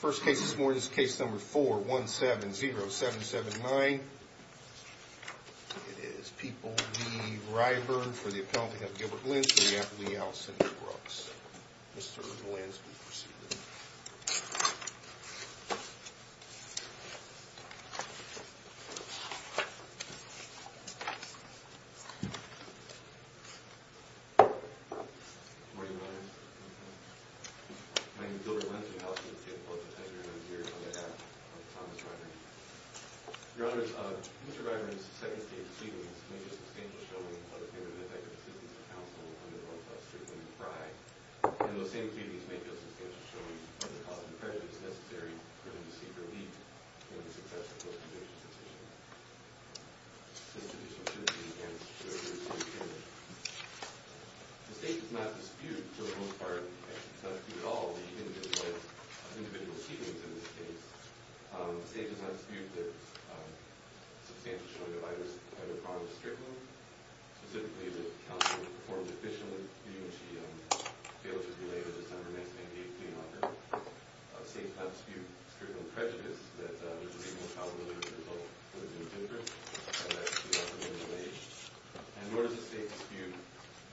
First case this morning is case number 4-170-779. It is People v. Ryburn for the appellant we have Gilbert Lentz and we have Lee Allison Brooks. Mr. Lentz will proceed with you. Good morning, Your Honor. My name is Gilbert Lentz and I will proceed with you on behalf of Thomas Ryburn. Your Honor, Mr. Ryburn's second case proceedings may feel substantial showing of the favor of the prejudice necessary for him to seek relief from the success of the post-conviction situation. Mr. Lentz, you may begin. The state does not dispute, for the most part, not dispute at all, the individualities of individual proceedings in this case. The state does not dispute the substantial showing of either promise strictly, specifically that counsel performed efficiently in which he failed to delay the December 1998 plea offer. The state does not dispute the criminal prejudice that there is a reasonable probability that the result would have been different had that plea offer been delayed. And nor does the state dispute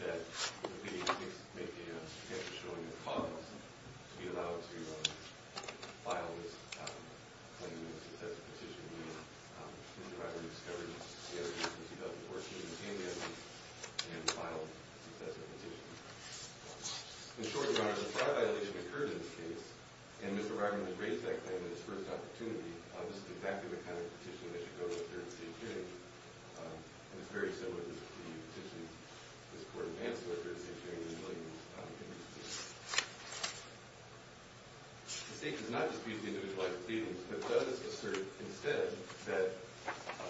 that the plea makes a substantial showing of promise to be allowed to file this claim in a successful position. In short, Your Honor, the fraud violation occurred in this case, and Mr. Ryburn had raised that claim at his first opportunity. This is exactly the kind of petition that should go to a third state hearing, and it's very similar to the petition this Court advanced to a third state hearing in the Williams case. The state does not dispute the individualized proceedings, but does assert, instead, that the individualized proceedings are not sufficient. The state asserts that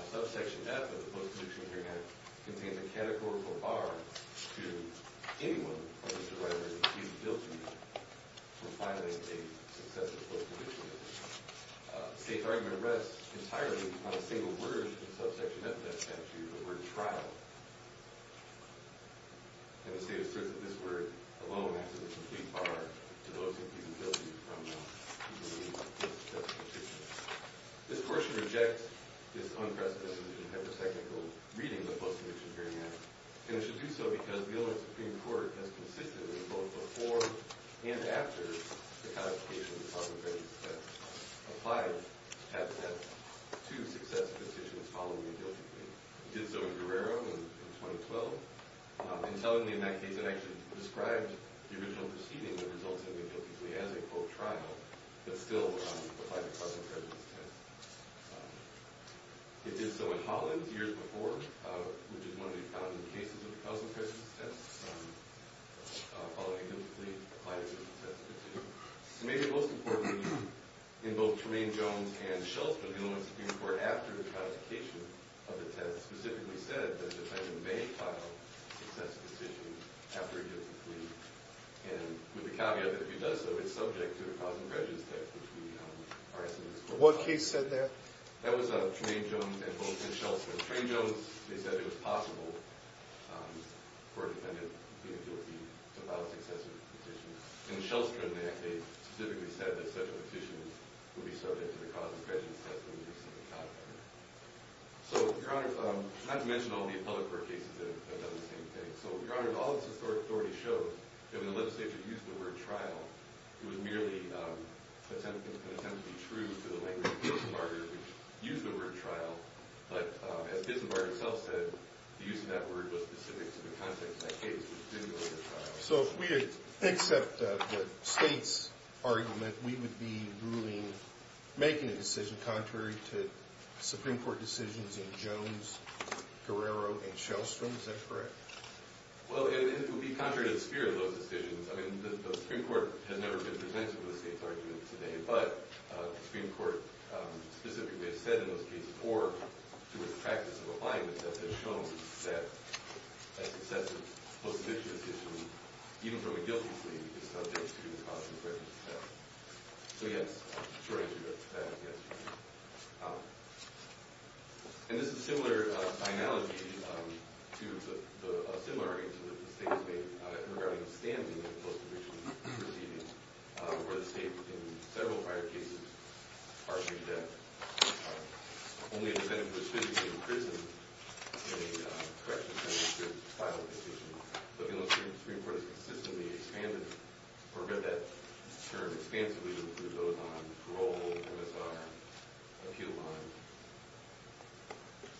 Subsection F of the Post-Perdiction Hearing Act contains a categorical bar to anyone who has derived an infeasibility from filing a successful post-perdiction hearing. The state's argument rests entirely on a single word in Subsection F of that statute, the word trial. And the state asserts that this word alone acts as a complete bar to those who have infeasibility from the individualized post-perdiction hearing. This Court should reject this unprecedented and hyper-technical reading of the Post-Perdiction Hearing Act, and it should do so because the Illinois Supreme Court has consistently, both before and after the codification of the top of the agency statute, applied Subsection F to successive petitions following the guilty plea. It did so in Guerrero in 2012, and suddenly, in that case, it actually described the original proceeding that resulted in the guilty plea as a, quote, trial, but still applied the cousin's prejudice test. It did so in Hollins years before, which is one of the common cases of the cousin's prejudice test, following a guilty plea, applied it to successive petitions. And maybe most importantly, in both Tremaine Jones and Schultzman, the Illinois Supreme Court, after the codification of the test, specifically said that the defendant may file successive petitions after a guilty plea, and with the caveat that if he does so, it's subject to the cousin's prejudice test, which we are asking this Court to apply. What case said that? That was Tremaine Jones and Schultzman. Tremaine Jones, they said it was possible for a defendant to file successive petitions, and Schultzman, they specifically said that such a petition would be subject to the cousin's prejudice test when he received the codification. So, Your Honor, not to mention all the appellate court cases that have done the same thing. So, Your Honor, all of this authority shows that when the legislature used the word trial, it was merely an attempt to be true to the language of Bismarck, which used the word trial. But as Bismarck himself said, the use of that word was specific to the context of that case, which didn't go to trial. So if we accept the State's argument, we would be ruling, making a decision contrary to Supreme Court decisions in Jones, Guerrero, and Shellstrom. Is that correct? Well, it would be contrary to the spirit of those decisions. I mean, the Supreme Court has never been presented with the State's argument today, but the Supreme Court specifically has said in those cases, or through its practice of applying the test, has shown that a successive post-addiction decision, even from a guilty plea, is subject to the cousin's prejudice test. So, yes, contrary to that, yes, Your Honor. And this is a similar analogy to a similar argument that the State has made regarding the standing of post-addiction proceedings, where the State, in several prior cases, argued that only a defendant was physically in prison in a correctional center should file a decision. But, you know, the Supreme Court has consistently expanded, or read that term expansively, including those on parole, MSR, and a few other lines.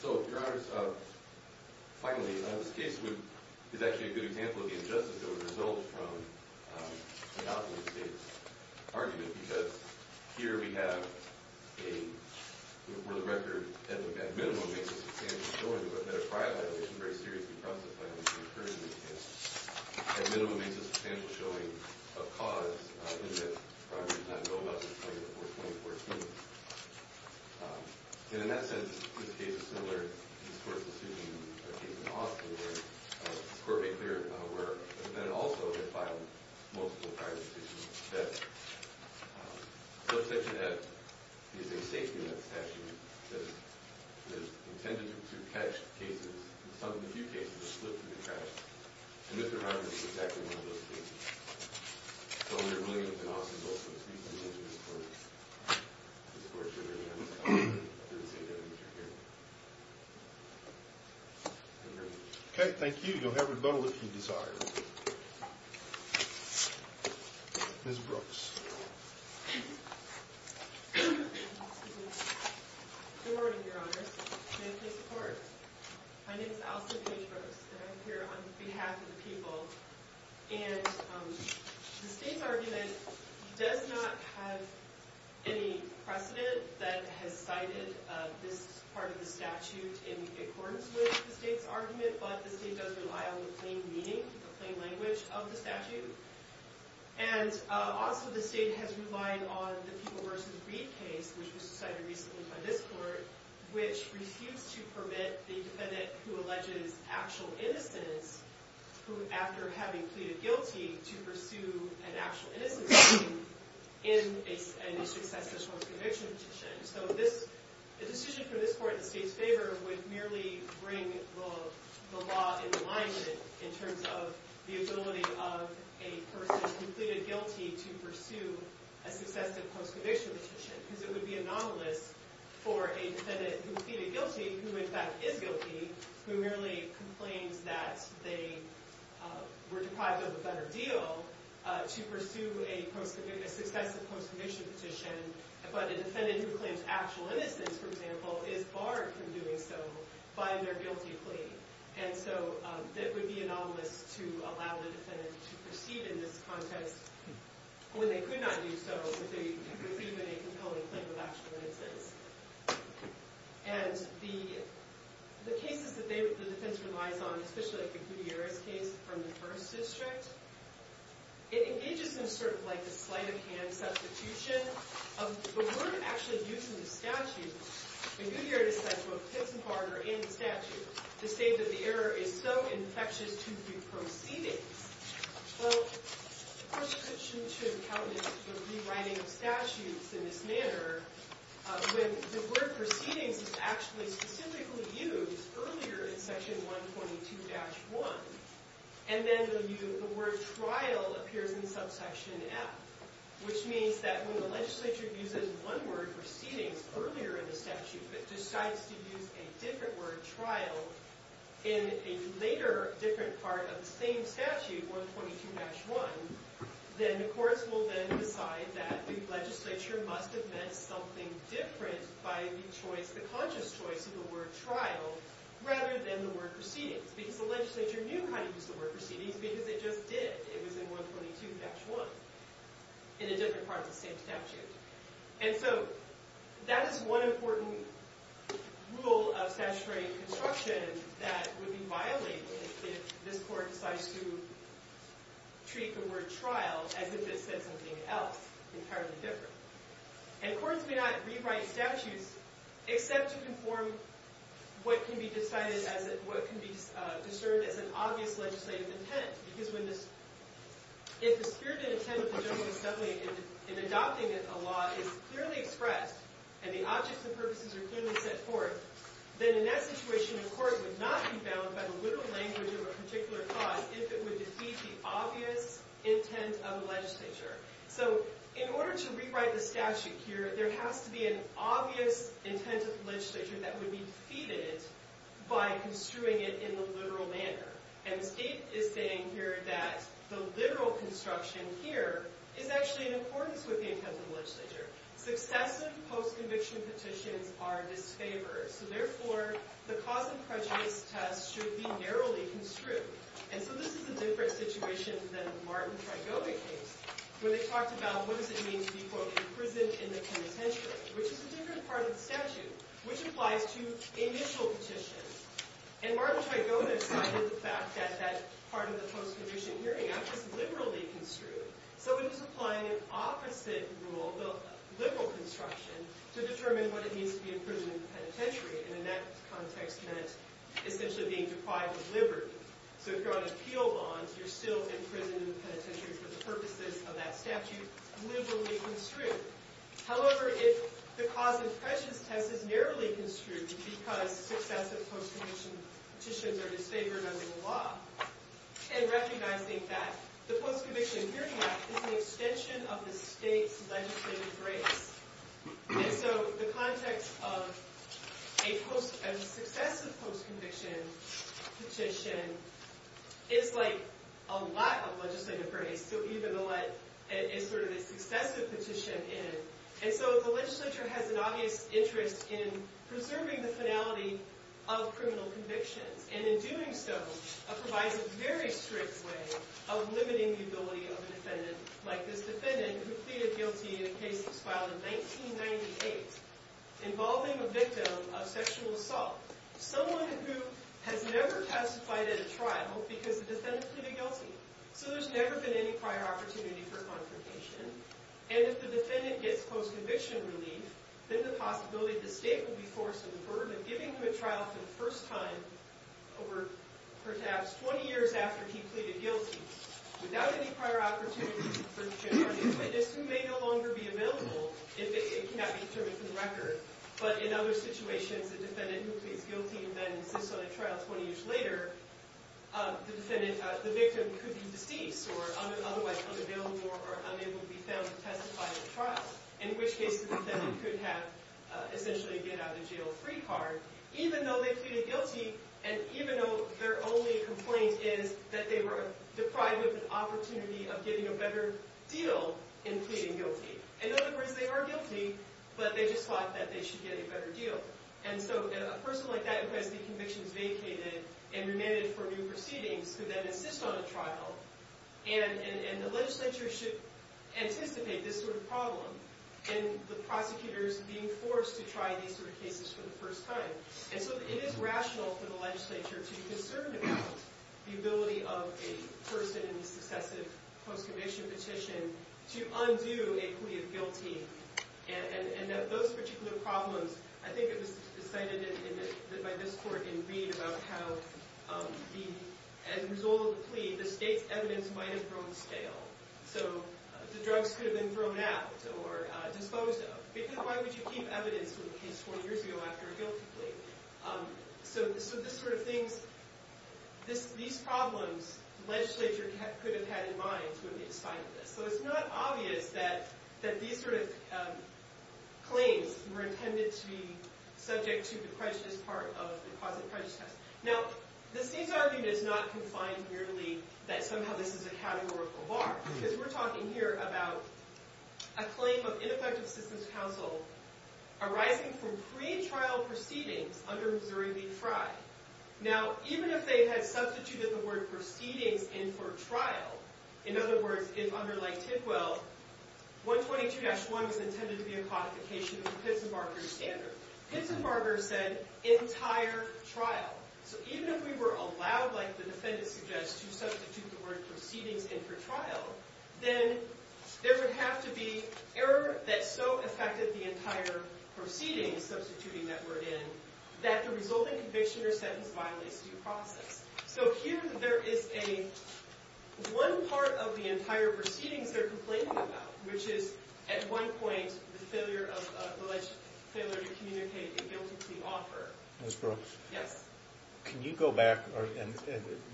So, Your Honors, finally, this case is actually a good example of the injustice that would result from an outdated State's argument, because here we have a – where the record, at minimum, makes a substantial showing that a prior violation, a very serious confrontative violation, occurred in this case. At minimum, it makes a substantial showing of cause in that the primary did not know about this claim before 2014. And, in that sense, this case is similar to this court's decision in the case in Austin, where the court made clear that the defendants also had filed multiple prior decisions that the subsection F, using safety nets, actually says that it's intended to catch cases, and some of the few cases, that slip through the cracks. And Mr. Reimer is exactly one of those cases. So, we are really going to be in Austin, both for this case and the rest of this court. This court should be able to comment through the safety net that you're hearing. Okay, thank you. You'll have rebuttal if you desire. Ms. Brooks. Good morning, Your Honors, and thank you for your support. My name is Allison Page Brooks, and I'm here on behalf of the people. And the state's argument does not have any precedent that has cited this part of the statute in accordance with the state's argument, but the state does rely on the plain meaning, the plain language of the statute. And, also, the state has relied on the People vs. Breed case, which was decided recently by this court, which refused to permit the defendant who alleges actual innocence, who, after having pleaded guilty, to pursue an actual innocence suit in a successful post-conviction petition. So, the decision for this court in the state's favor would merely bring the law in alignment in terms of the ability of a person who pleaded guilty to pursue a successful post-conviction petition, because it would be anomalous for a defendant who pleaded guilty, who, in fact, is guilty, who merely complains that they were deprived of a better deal to pursue a successive post-conviction petition, but a defendant who claims actual innocence, for example, is barred from doing so by their guilty plea. And so, it would be anomalous to allow the defendant to proceed in this context when they could not do so, so that they could proceed with a compelling claim of actual innocence. And the cases that the defense relies on, especially the Gutierrez case from the 1st District, it engages in sort of like a sleight-of-hand substitution of the word actually used in the statute. And Gutierrez said, both Pittsburgh and the statute, to say that the error is so infectious to be proceeding. Well, the prescription to accountants for rewriting of statutes in this manner, when the word proceedings is actually specifically used earlier in section 122-1, and then the word trial appears in subsection F, which means that when the legislature uses one word, proceedings, earlier in the statute, but decides to use a different word, trial, in a later different part of the same statute, 122-1, then the courts will then decide that the legislature must have meant something different by the conscious choice of the word trial, rather than the word proceedings. Because the legislature knew how to use the word proceedings, because it just did. It was in 122-1, in a different part of the same statute. And so, that is one important rule of statutory construction that would be violated if this court decides to treat the word trial as if it said something else, entirely different. And courts may not rewrite statutes except to conform what can be discerned as an obvious legislative intent. Because if the spirit and intent of the general assembly in adopting a law is clearly expressed, and the objects and purposes are clearly set forth, then in that situation, a court would not be bound by the literal language of a particular cause if it would defeat the obvious intent of the legislature. So, in order to rewrite the statute here, there has to be an obvious intent of the legislature that would be defeated by construing it in the literal manner. And State is saying here that the literal construction here is actually in accordance with the intent of the legislature. Successive post-conviction petitions are disfavored. So, therefore, the cause of prejudice test should be narrowly construed. And so, this is a different situation than the Martin Trigoda case, where they talked about what does it mean to be, quote, imprisoned in the penitentiary, which is a different part of the statute, which applies to initial petitions. And Martin Trigoda cited the fact that that part of the post-conviction hearing act was liberally construed. So, it was applying an opposite rule, the liberal construction, to determine what it means to be imprisoned in the penitentiary. And in that context meant essentially being deprived of liberty. So, if you're on appeal bonds, you're still imprisoned in the penitentiary for the purposes of that statute, liberally construed. However, if the cause of prejudice test is narrowly construed because successive post-conviction petitions are disfavored under the law, and recognizing that the post-conviction hearing act is an extension of the State's legislative grace. And so, the context of a successive post-conviction petition is like a lot of legislative grace. So, even to let a sort of a successive petition in. And so, the legislature has an obvious interest in preserving the finality of criminal convictions. And in doing so, provides a very strict way of limiting the ability of a defendant, like this defendant who pleaded guilty in a case that was filed in 1998, involving a victim of sexual assault. Someone who has never testified at a trial because the defendant pleaded guilty. So, there's never been any prior opportunity for confrontation. And if the defendant gets post-conviction relief, then the possibility of the State will be forced into the burden of giving him a trial for the first time, over perhaps 20 years after he pleaded guilty, without any prior opportunity for conviction, or a new witness who may no longer be available if it cannot be determined from the record. But in other situations, a defendant who pleads guilty and then insists on a trial 20 years later, the victim could be deceased, or otherwise unavailable, or unable to be found to testify at a trial. In which case, the defendant could have, essentially, a get-out-of-jail-free card. Even though they pleaded guilty, and even though their only complaint is that they were deprived of an opportunity of getting a better deal in pleading guilty. In other words, they are guilty, but they just thought that they should get a better deal. And so, a person like that who has the convictions vacated and remanded for new proceedings, could then insist on a trial, and the legislature should anticipate this sort of problem, in the prosecutors being forced to try these sort of cases for the first time. And so, it is rational for the legislature to be concerned about the ability of a person in a successive post-conviction petition to undo a plea of guilty. And that those particular problems, I think it was decided by this court in Reed, about how, as a result of the plea, the state's evidence might have grown stale. So, the drugs could have been thrown out, or disposed of. Because why would you keep evidence from a case 20 years ago after a guilty plea? So, these sort of things, these problems, the legislature could have had in mind when they decided this. So, it's not obvious that these sort of claims were intended to be subject to the prejudice part of the positive prejudice test. Now, the state's argument is not confined merely that somehow this is a categorical bar. Because we're talking here about a claim of ineffective systems counsel arising from pre-trial proceedings under Missouri v. Frye. Now, even if they had substituted the word proceedings in for trial, in other words, if under Lake Tidwell, 122-1 was intended to be a codification of the Pittsburgher standard. Pittsburgher said, entire trial. So, even if we were allowed, like the defendant suggests, to substitute the word proceedings in for trial, then there would have to be error that so affected the entire proceedings, substituting that word in, that the resulting conviction or sentence violates due process. So, here there is a one part of the entire proceedings they're complaining about, which is, at one point, the alleged failure to communicate a guilty plea offer. Ms. Brooks? Yes. Can you go back?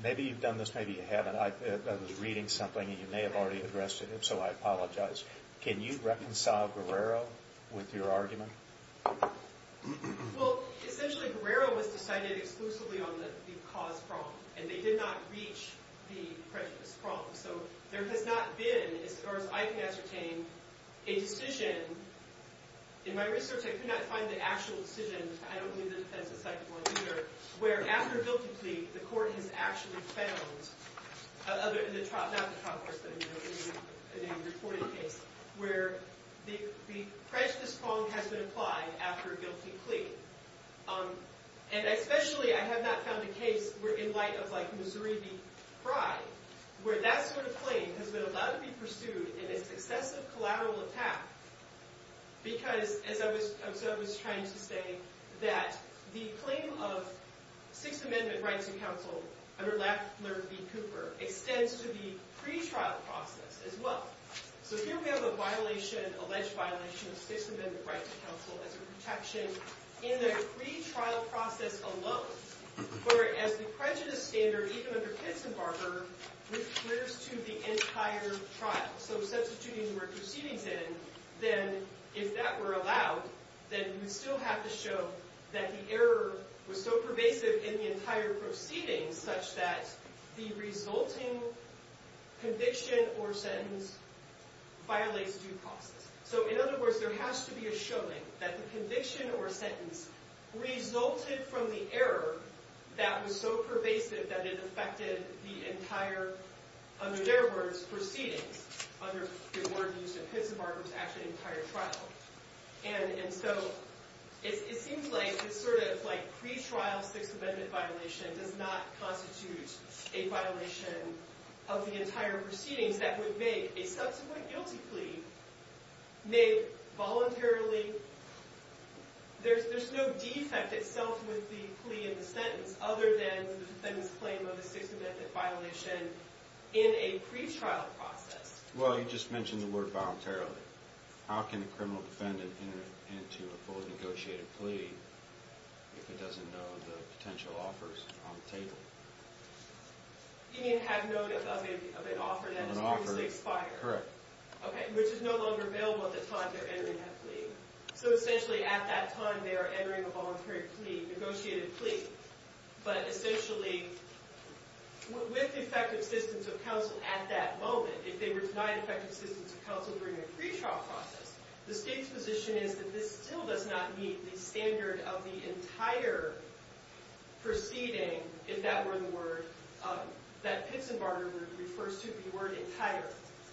Maybe you've done this, maybe you haven't. I was reading something and you may have already addressed it, so I apologize. Can you reconcile Guerrero with your argument? Well, essentially, Guerrero was decided exclusively on the cause problem. And they did not reach the prejudice problem. In my research, I could not find the actual decision. I don't believe the defense is psychical, either. Where, after a guilty plea, the court has actually found, not the trial, of course, but in a reported case, where the prejudice problem has been applied after a guilty plea. And, especially, I have not found a case in light of, like, Missouri v. Fry, where that sort of claim has been allowed to be pursued in a successive collateral attack. Because, as I was trying to say, that the claim of Sixth Amendment right to counsel, under Lafler v. Cooper, extends to the pretrial process, as well. So, here we have a violation, alleged violation, of Sixth Amendment right to counsel as a protection, in the pretrial process alone. Whereas, the prejudice standard, even under Kitzenbarger, refers to the entire trial. So, substituting where proceedings end, then, if that were allowed, then we still have to show that the error was so pervasive in the entire proceedings, such that the resulting conviction or sentence violates due process. So, in other words, there has to be a showing that the conviction or sentence resulted from the error that was so pervasive that it affected the entire, under their words, proceedings. Under the word used in Kitzenbarger, it was actually the entire trial. And so, it seems like this sort of, like, pretrial Sixth Amendment violation does not constitute a violation of the entire proceedings that would make a subsequent guilty plea made voluntarily. There's no defect itself with the plea and the sentence, other than the defendant's claim of a Sixth Amendment violation in a pretrial process. Well, you just mentioned the word voluntarily. How can a criminal defendant enter into a fully negotiated plea You mean have note of an offer that has previously expired? Correct. Okay, which is no longer available at the time they're entering that plea. So, essentially, at that time, they are entering a voluntary plea, negotiated plea. But, essentially, with effective assistance of counsel at that moment, if they were denied effective assistance of counsel during a pretrial process, the state's position is that this still does not meet the standard of the entire proceeding if that were the word, that Kitzenbarger word refers to the word entire.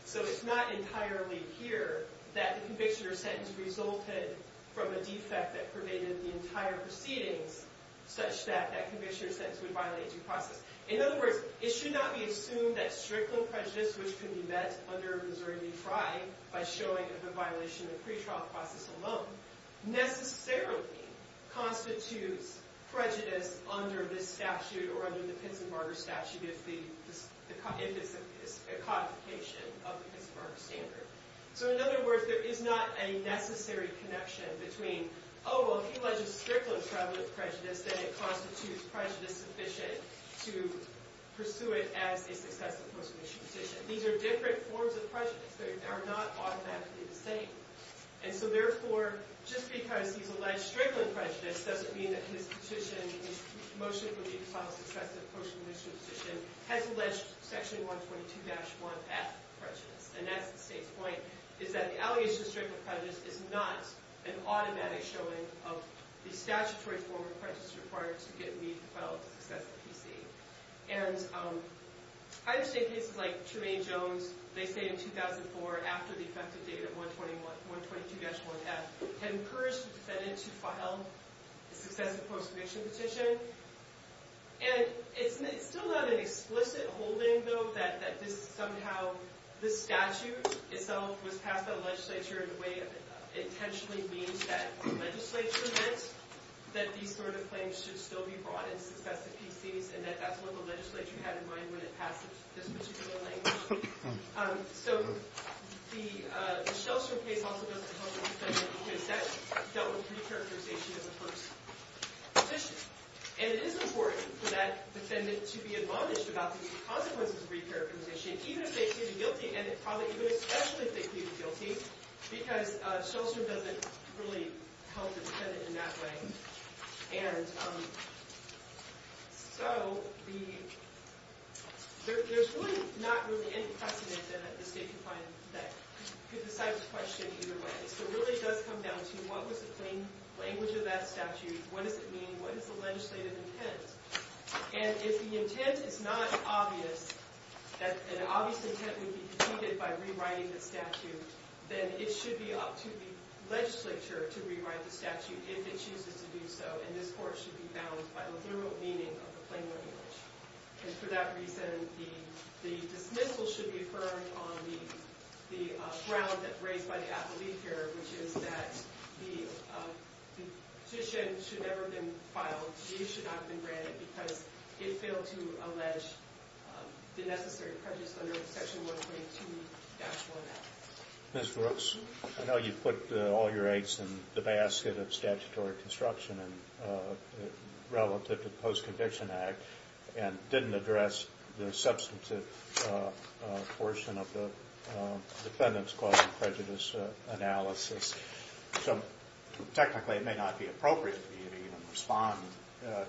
So, it's not entirely here that the conviction or sentence resulted from a defect that pervaded the entire proceedings, such that that conviction or sentence would violate due process. In other words, it should not be assumed that strictly prejudice, which could be met under Missouri v. Fry, by showing a violation of the pretrial process alone, necessarily constitutes prejudice under this statute or under the Kitzenbarger statute if it's a codification of the Kitzenbarger standard. So, in other words, there is not a necessary connection between, oh, well, if he alleges strict and prevalent prejudice, then it constitutes prejudice sufficient to pursue it as a successful post-conviction petition. These are different forms of prejudice. They are not automatically the same. And so, therefore, just because he's alleged strict and prevalent prejudice doesn't mean that his petition, his motion for the final successive post-conviction petition, has alleged section 122-1F prejudice. And that's the state's point, is that the allegation of strict and prevalent prejudice is not an automatic showing of the statutory form of prejudice required to get me, the Federal Office of Justice, to PC. And I understand cases like Tremaine Jones. They say in 2004, after the effective date of 122-1F, had encouraged the defendant to file a successive post-conviction petition. And it's still not an explicit holding, though, that somehow this statute itself was passed by the legislature in a way that intentionally means that the legislature meant that these sort of claims should still be brought in successive PCs and that that's what the legislature had in mind when it passed this particular language. So the Schelter case also doesn't help the defendant because that dealt with re-characterization of the first petition. And it is important for that defendant to be admonished about the consequences of re-characterization, even if they plead guilty, and it probably could especially if they plead guilty, because Schelter doesn't really help the defendant in that way. And so there's really not really any precedent that the state can find that could decide the question either way. So it really does come down to what was the plain language of that statute, what does it mean, what is the legislative intent? And if the intent is not obvious, that an obvious intent would be defeated by rewriting the statute, then it should be up to the legislature to rewrite the statute if it chooses to do so, and this court should be bound by the literal meaning of the plain language. And for that reason, the dismissal should be affirmed on the ground raised by the athlete here, which is that the petition should never have been filed, the issue should not have been granted, because it failed to allege the necessary prejudice under Section 122-1L. Ms. Brooks, I know you put all your aids in the basket of statutory construction relative to the Post-Conviction Act and didn't address the substantive portion of the defendant's cause of prejudice analysis. So technically it may not be appropriate for you to even respond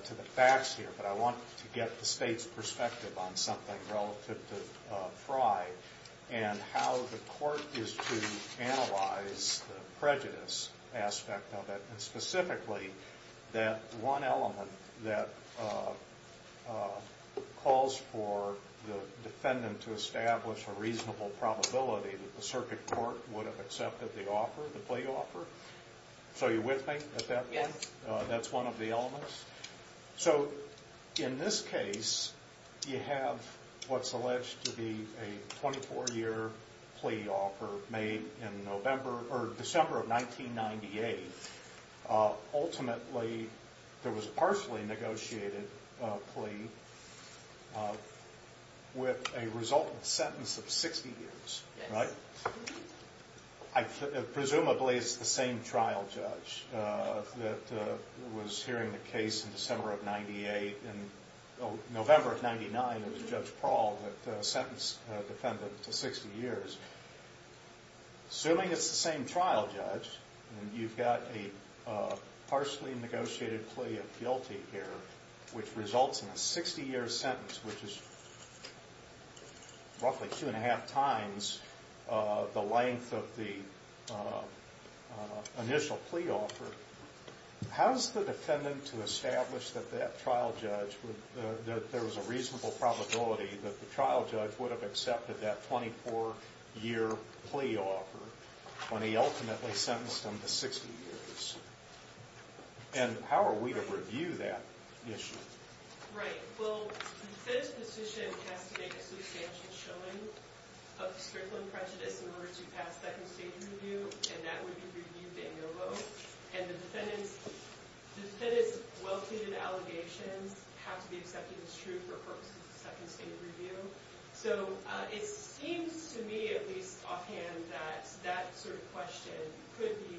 to the facts here, but I wanted to get the State's perspective on something relative to Fry and how the court is to analyze the prejudice aspect of it, and specifically that one element that calls for the defendant to establish a reasonable probability that the circuit court would have accepted the offer, the plea offer. So you're with me at that point? That's one of the elements? So in this case, you have what's alleged to be a 24-year plea offer made in December of 1998. Ultimately, there was a partially negotiated plea with a resultant sentence of 60 years, right? Presumably it's the same trial judge that was hearing the case in December of 1998. In November of 1999, it was Judge Prowl that sentenced the defendant to 60 years. Assuming it's the same trial judge and you've got a partially negotiated plea of guilty here, which results in a 60-year sentence, which is roughly two-and-a-half times the length of the initial plea offer, how is the defendant to establish that there was a reasonable probability that the trial judge would have accepted that 24-year plea offer when he ultimately sentenced him to 60 years? And how are we to review that issue? Right. Well, the defendant's position has to make a substantial showing of the strickling prejudice in order to pass second-stage review, and that would be reviewed de novo. And the defendant's well-treated allegations have to be accepted as true for purposes of second-stage review. So it seems to me, at least offhand, that that sort of question could be,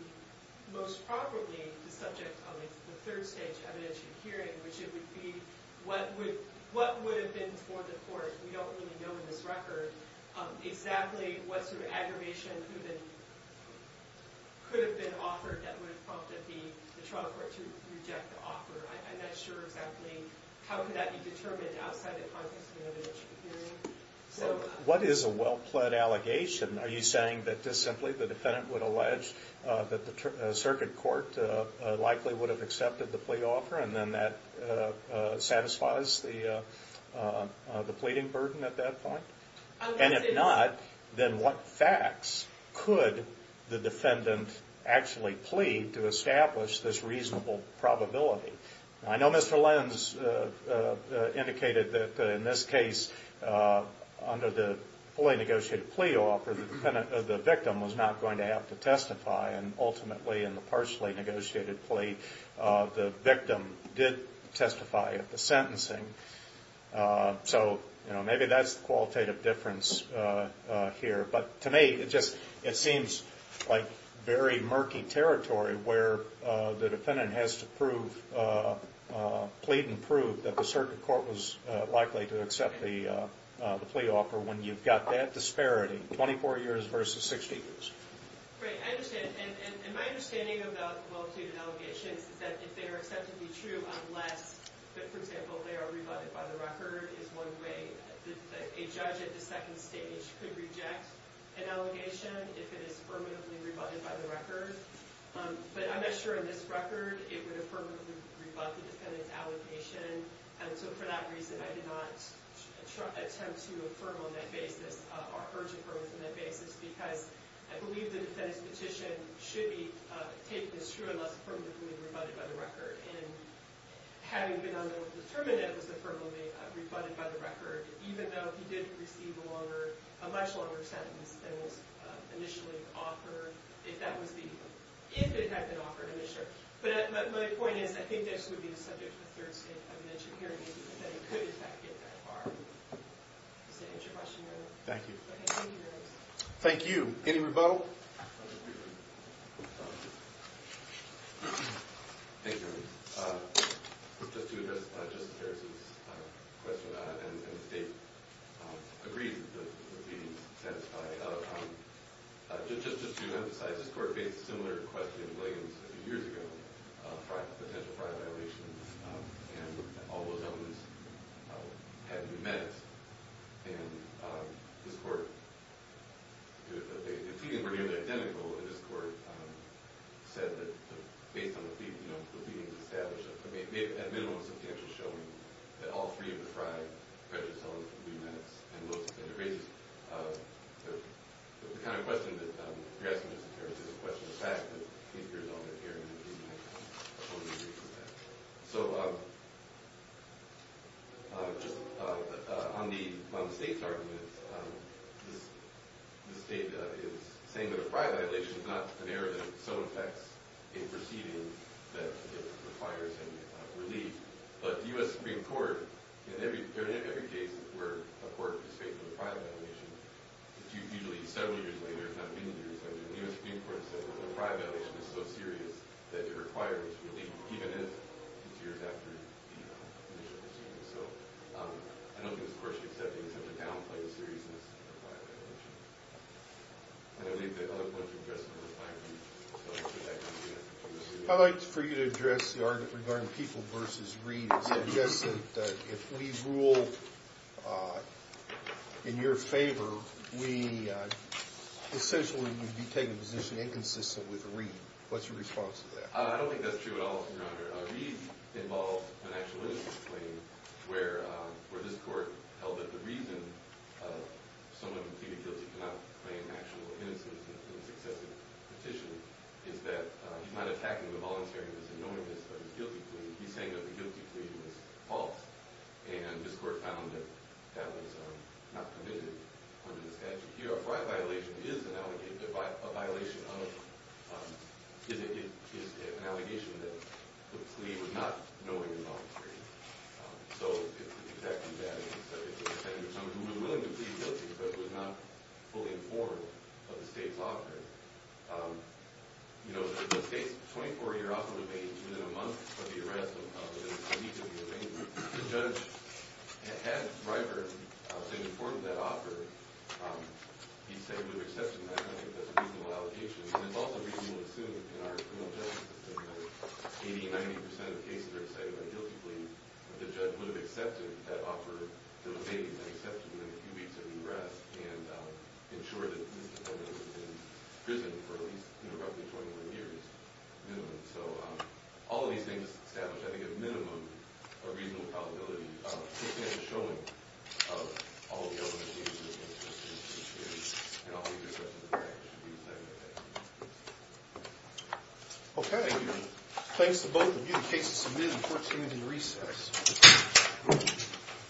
most probably, the subject of a third-stage evidentiary hearing, which would be, what would have been for the court, we don't really know in this record, exactly what sort of aggravation could have been offered that would have prompted the trial court to reject the offer. I'm not sure exactly how could that be determined outside the context of the evidentiary hearing. What is a well-pled allegation? Are you saying that just simply the defendant would allege that the circuit court likely would have accepted the plea offer and then that satisfies the pleading burden at that point? And if not, then what facts could the defendant actually plea to establish this reasonable probability? I know Mr. Lenz indicated that in this case, under the fully-negotiated plea offer, the victim was not going to have to testify, and ultimately in the partially-negotiated plea, the victim did testify at the sentencing. So maybe that's the qualitative difference here. But to me, it seems like very murky territory where the defendant has to plead and prove that the circuit court was likely to accept the plea offer when you've got that disparity, 24 years versus 60 years. Great. I understand. And my understanding of the well-pleaded allegations is that if they are acceptably true, unless, for example, they are rebutted by the record is one way. A judge at the second stage could reject an allegation if it is permanently rebutted by the record. But I'm not sure in this record it would have permanently rebut the defendant's allegation. And so for that reason, I did not attempt to affirm on that basis or urge affirm on that basis because I believe the defendant's petition should be taken as true unless permanently rebutted by the record. And having been on the term in that it was affirmably rebutted by the record, even though he did receive a much longer sentence than was initially offered, if it had been offered, I'm not sure. But my point is I think this would be the subject of a third-stage evidentiary hearing, and the defendant could, in fact, get that far. Does that answer your question, Your Honor? Thank you. Thank you. Thank you. Any rebuttal? Thank you, Your Honor. Just to address Justice Harris's question, and the State agrees that the proceeding is satisfied, just to emphasize, this Court faced a similar question in Williams a few years ago, potential prior violations, and all those elements had to be met. And this Court, the proceedings were nearly identical, and this Court said that based on the proceedings established, at minimum, a substantial showing that all three of the five prejudice elements would be met. And it raises the kind of question that you're asking, Justice Harris, is the question of the fact that eight years on, they're hearing that these men totally agree with that. So just on the State's argument, the State is saying that a prior violation is not an error that so affects a proceeding that it requires relief. But the U.S. Supreme Court, in every case where a court is facing a prior violation, usually several years later, not many years later, the U.S. Supreme Court said that a prior violation is so serious that it requires relief, even if it's years after the initial proceedings. So I don't think this Court should be accepting such a downplay of seriousness of a prior violation. And I'll leave that other point to the judge to refine it. I'd like for you to address the argument regarding people versus Reed. It suggests that if we rule in your favor, we essentially would be taking a position inconsistent with Reed. What's your response to that? I don't think that's true at all, Your Honor. Reed involved an actual innocence claim where this Court held that the reason someone who pleaded guilty cannot claim actual innocence in a successive petition is that he's not attacking the volunteer. He was ignoring this guilty plea. He's saying that the guilty plea was false. And this Court found that that was not permitted under the statute. The prior violation is an allegation that the plea was not knowing the volunteer. So it's exactly that. It was intended for someone who was willing to plead guilty but was not fully informed of the State's offer. You know, the State's 24-year offer to make it within a month of the arrest The judge had Ryburn informed of that offer. He said he would have accepted that. I don't think that's a reasonable allegation. And it's also reasonable to assume in our criminal justice system that 80% to 90% of cases are decided by guilty plea. The judge would have accepted that offer within a few weeks of the arrest and ensured that this defendant would have been in prison for at least roughly 21 years. So, all of these things establish, I think, a minimum of reasonable probability of this man showing all of the elements of his criminal justice experience. And I'll leave your questions at that. Okay. Thanks to both of you.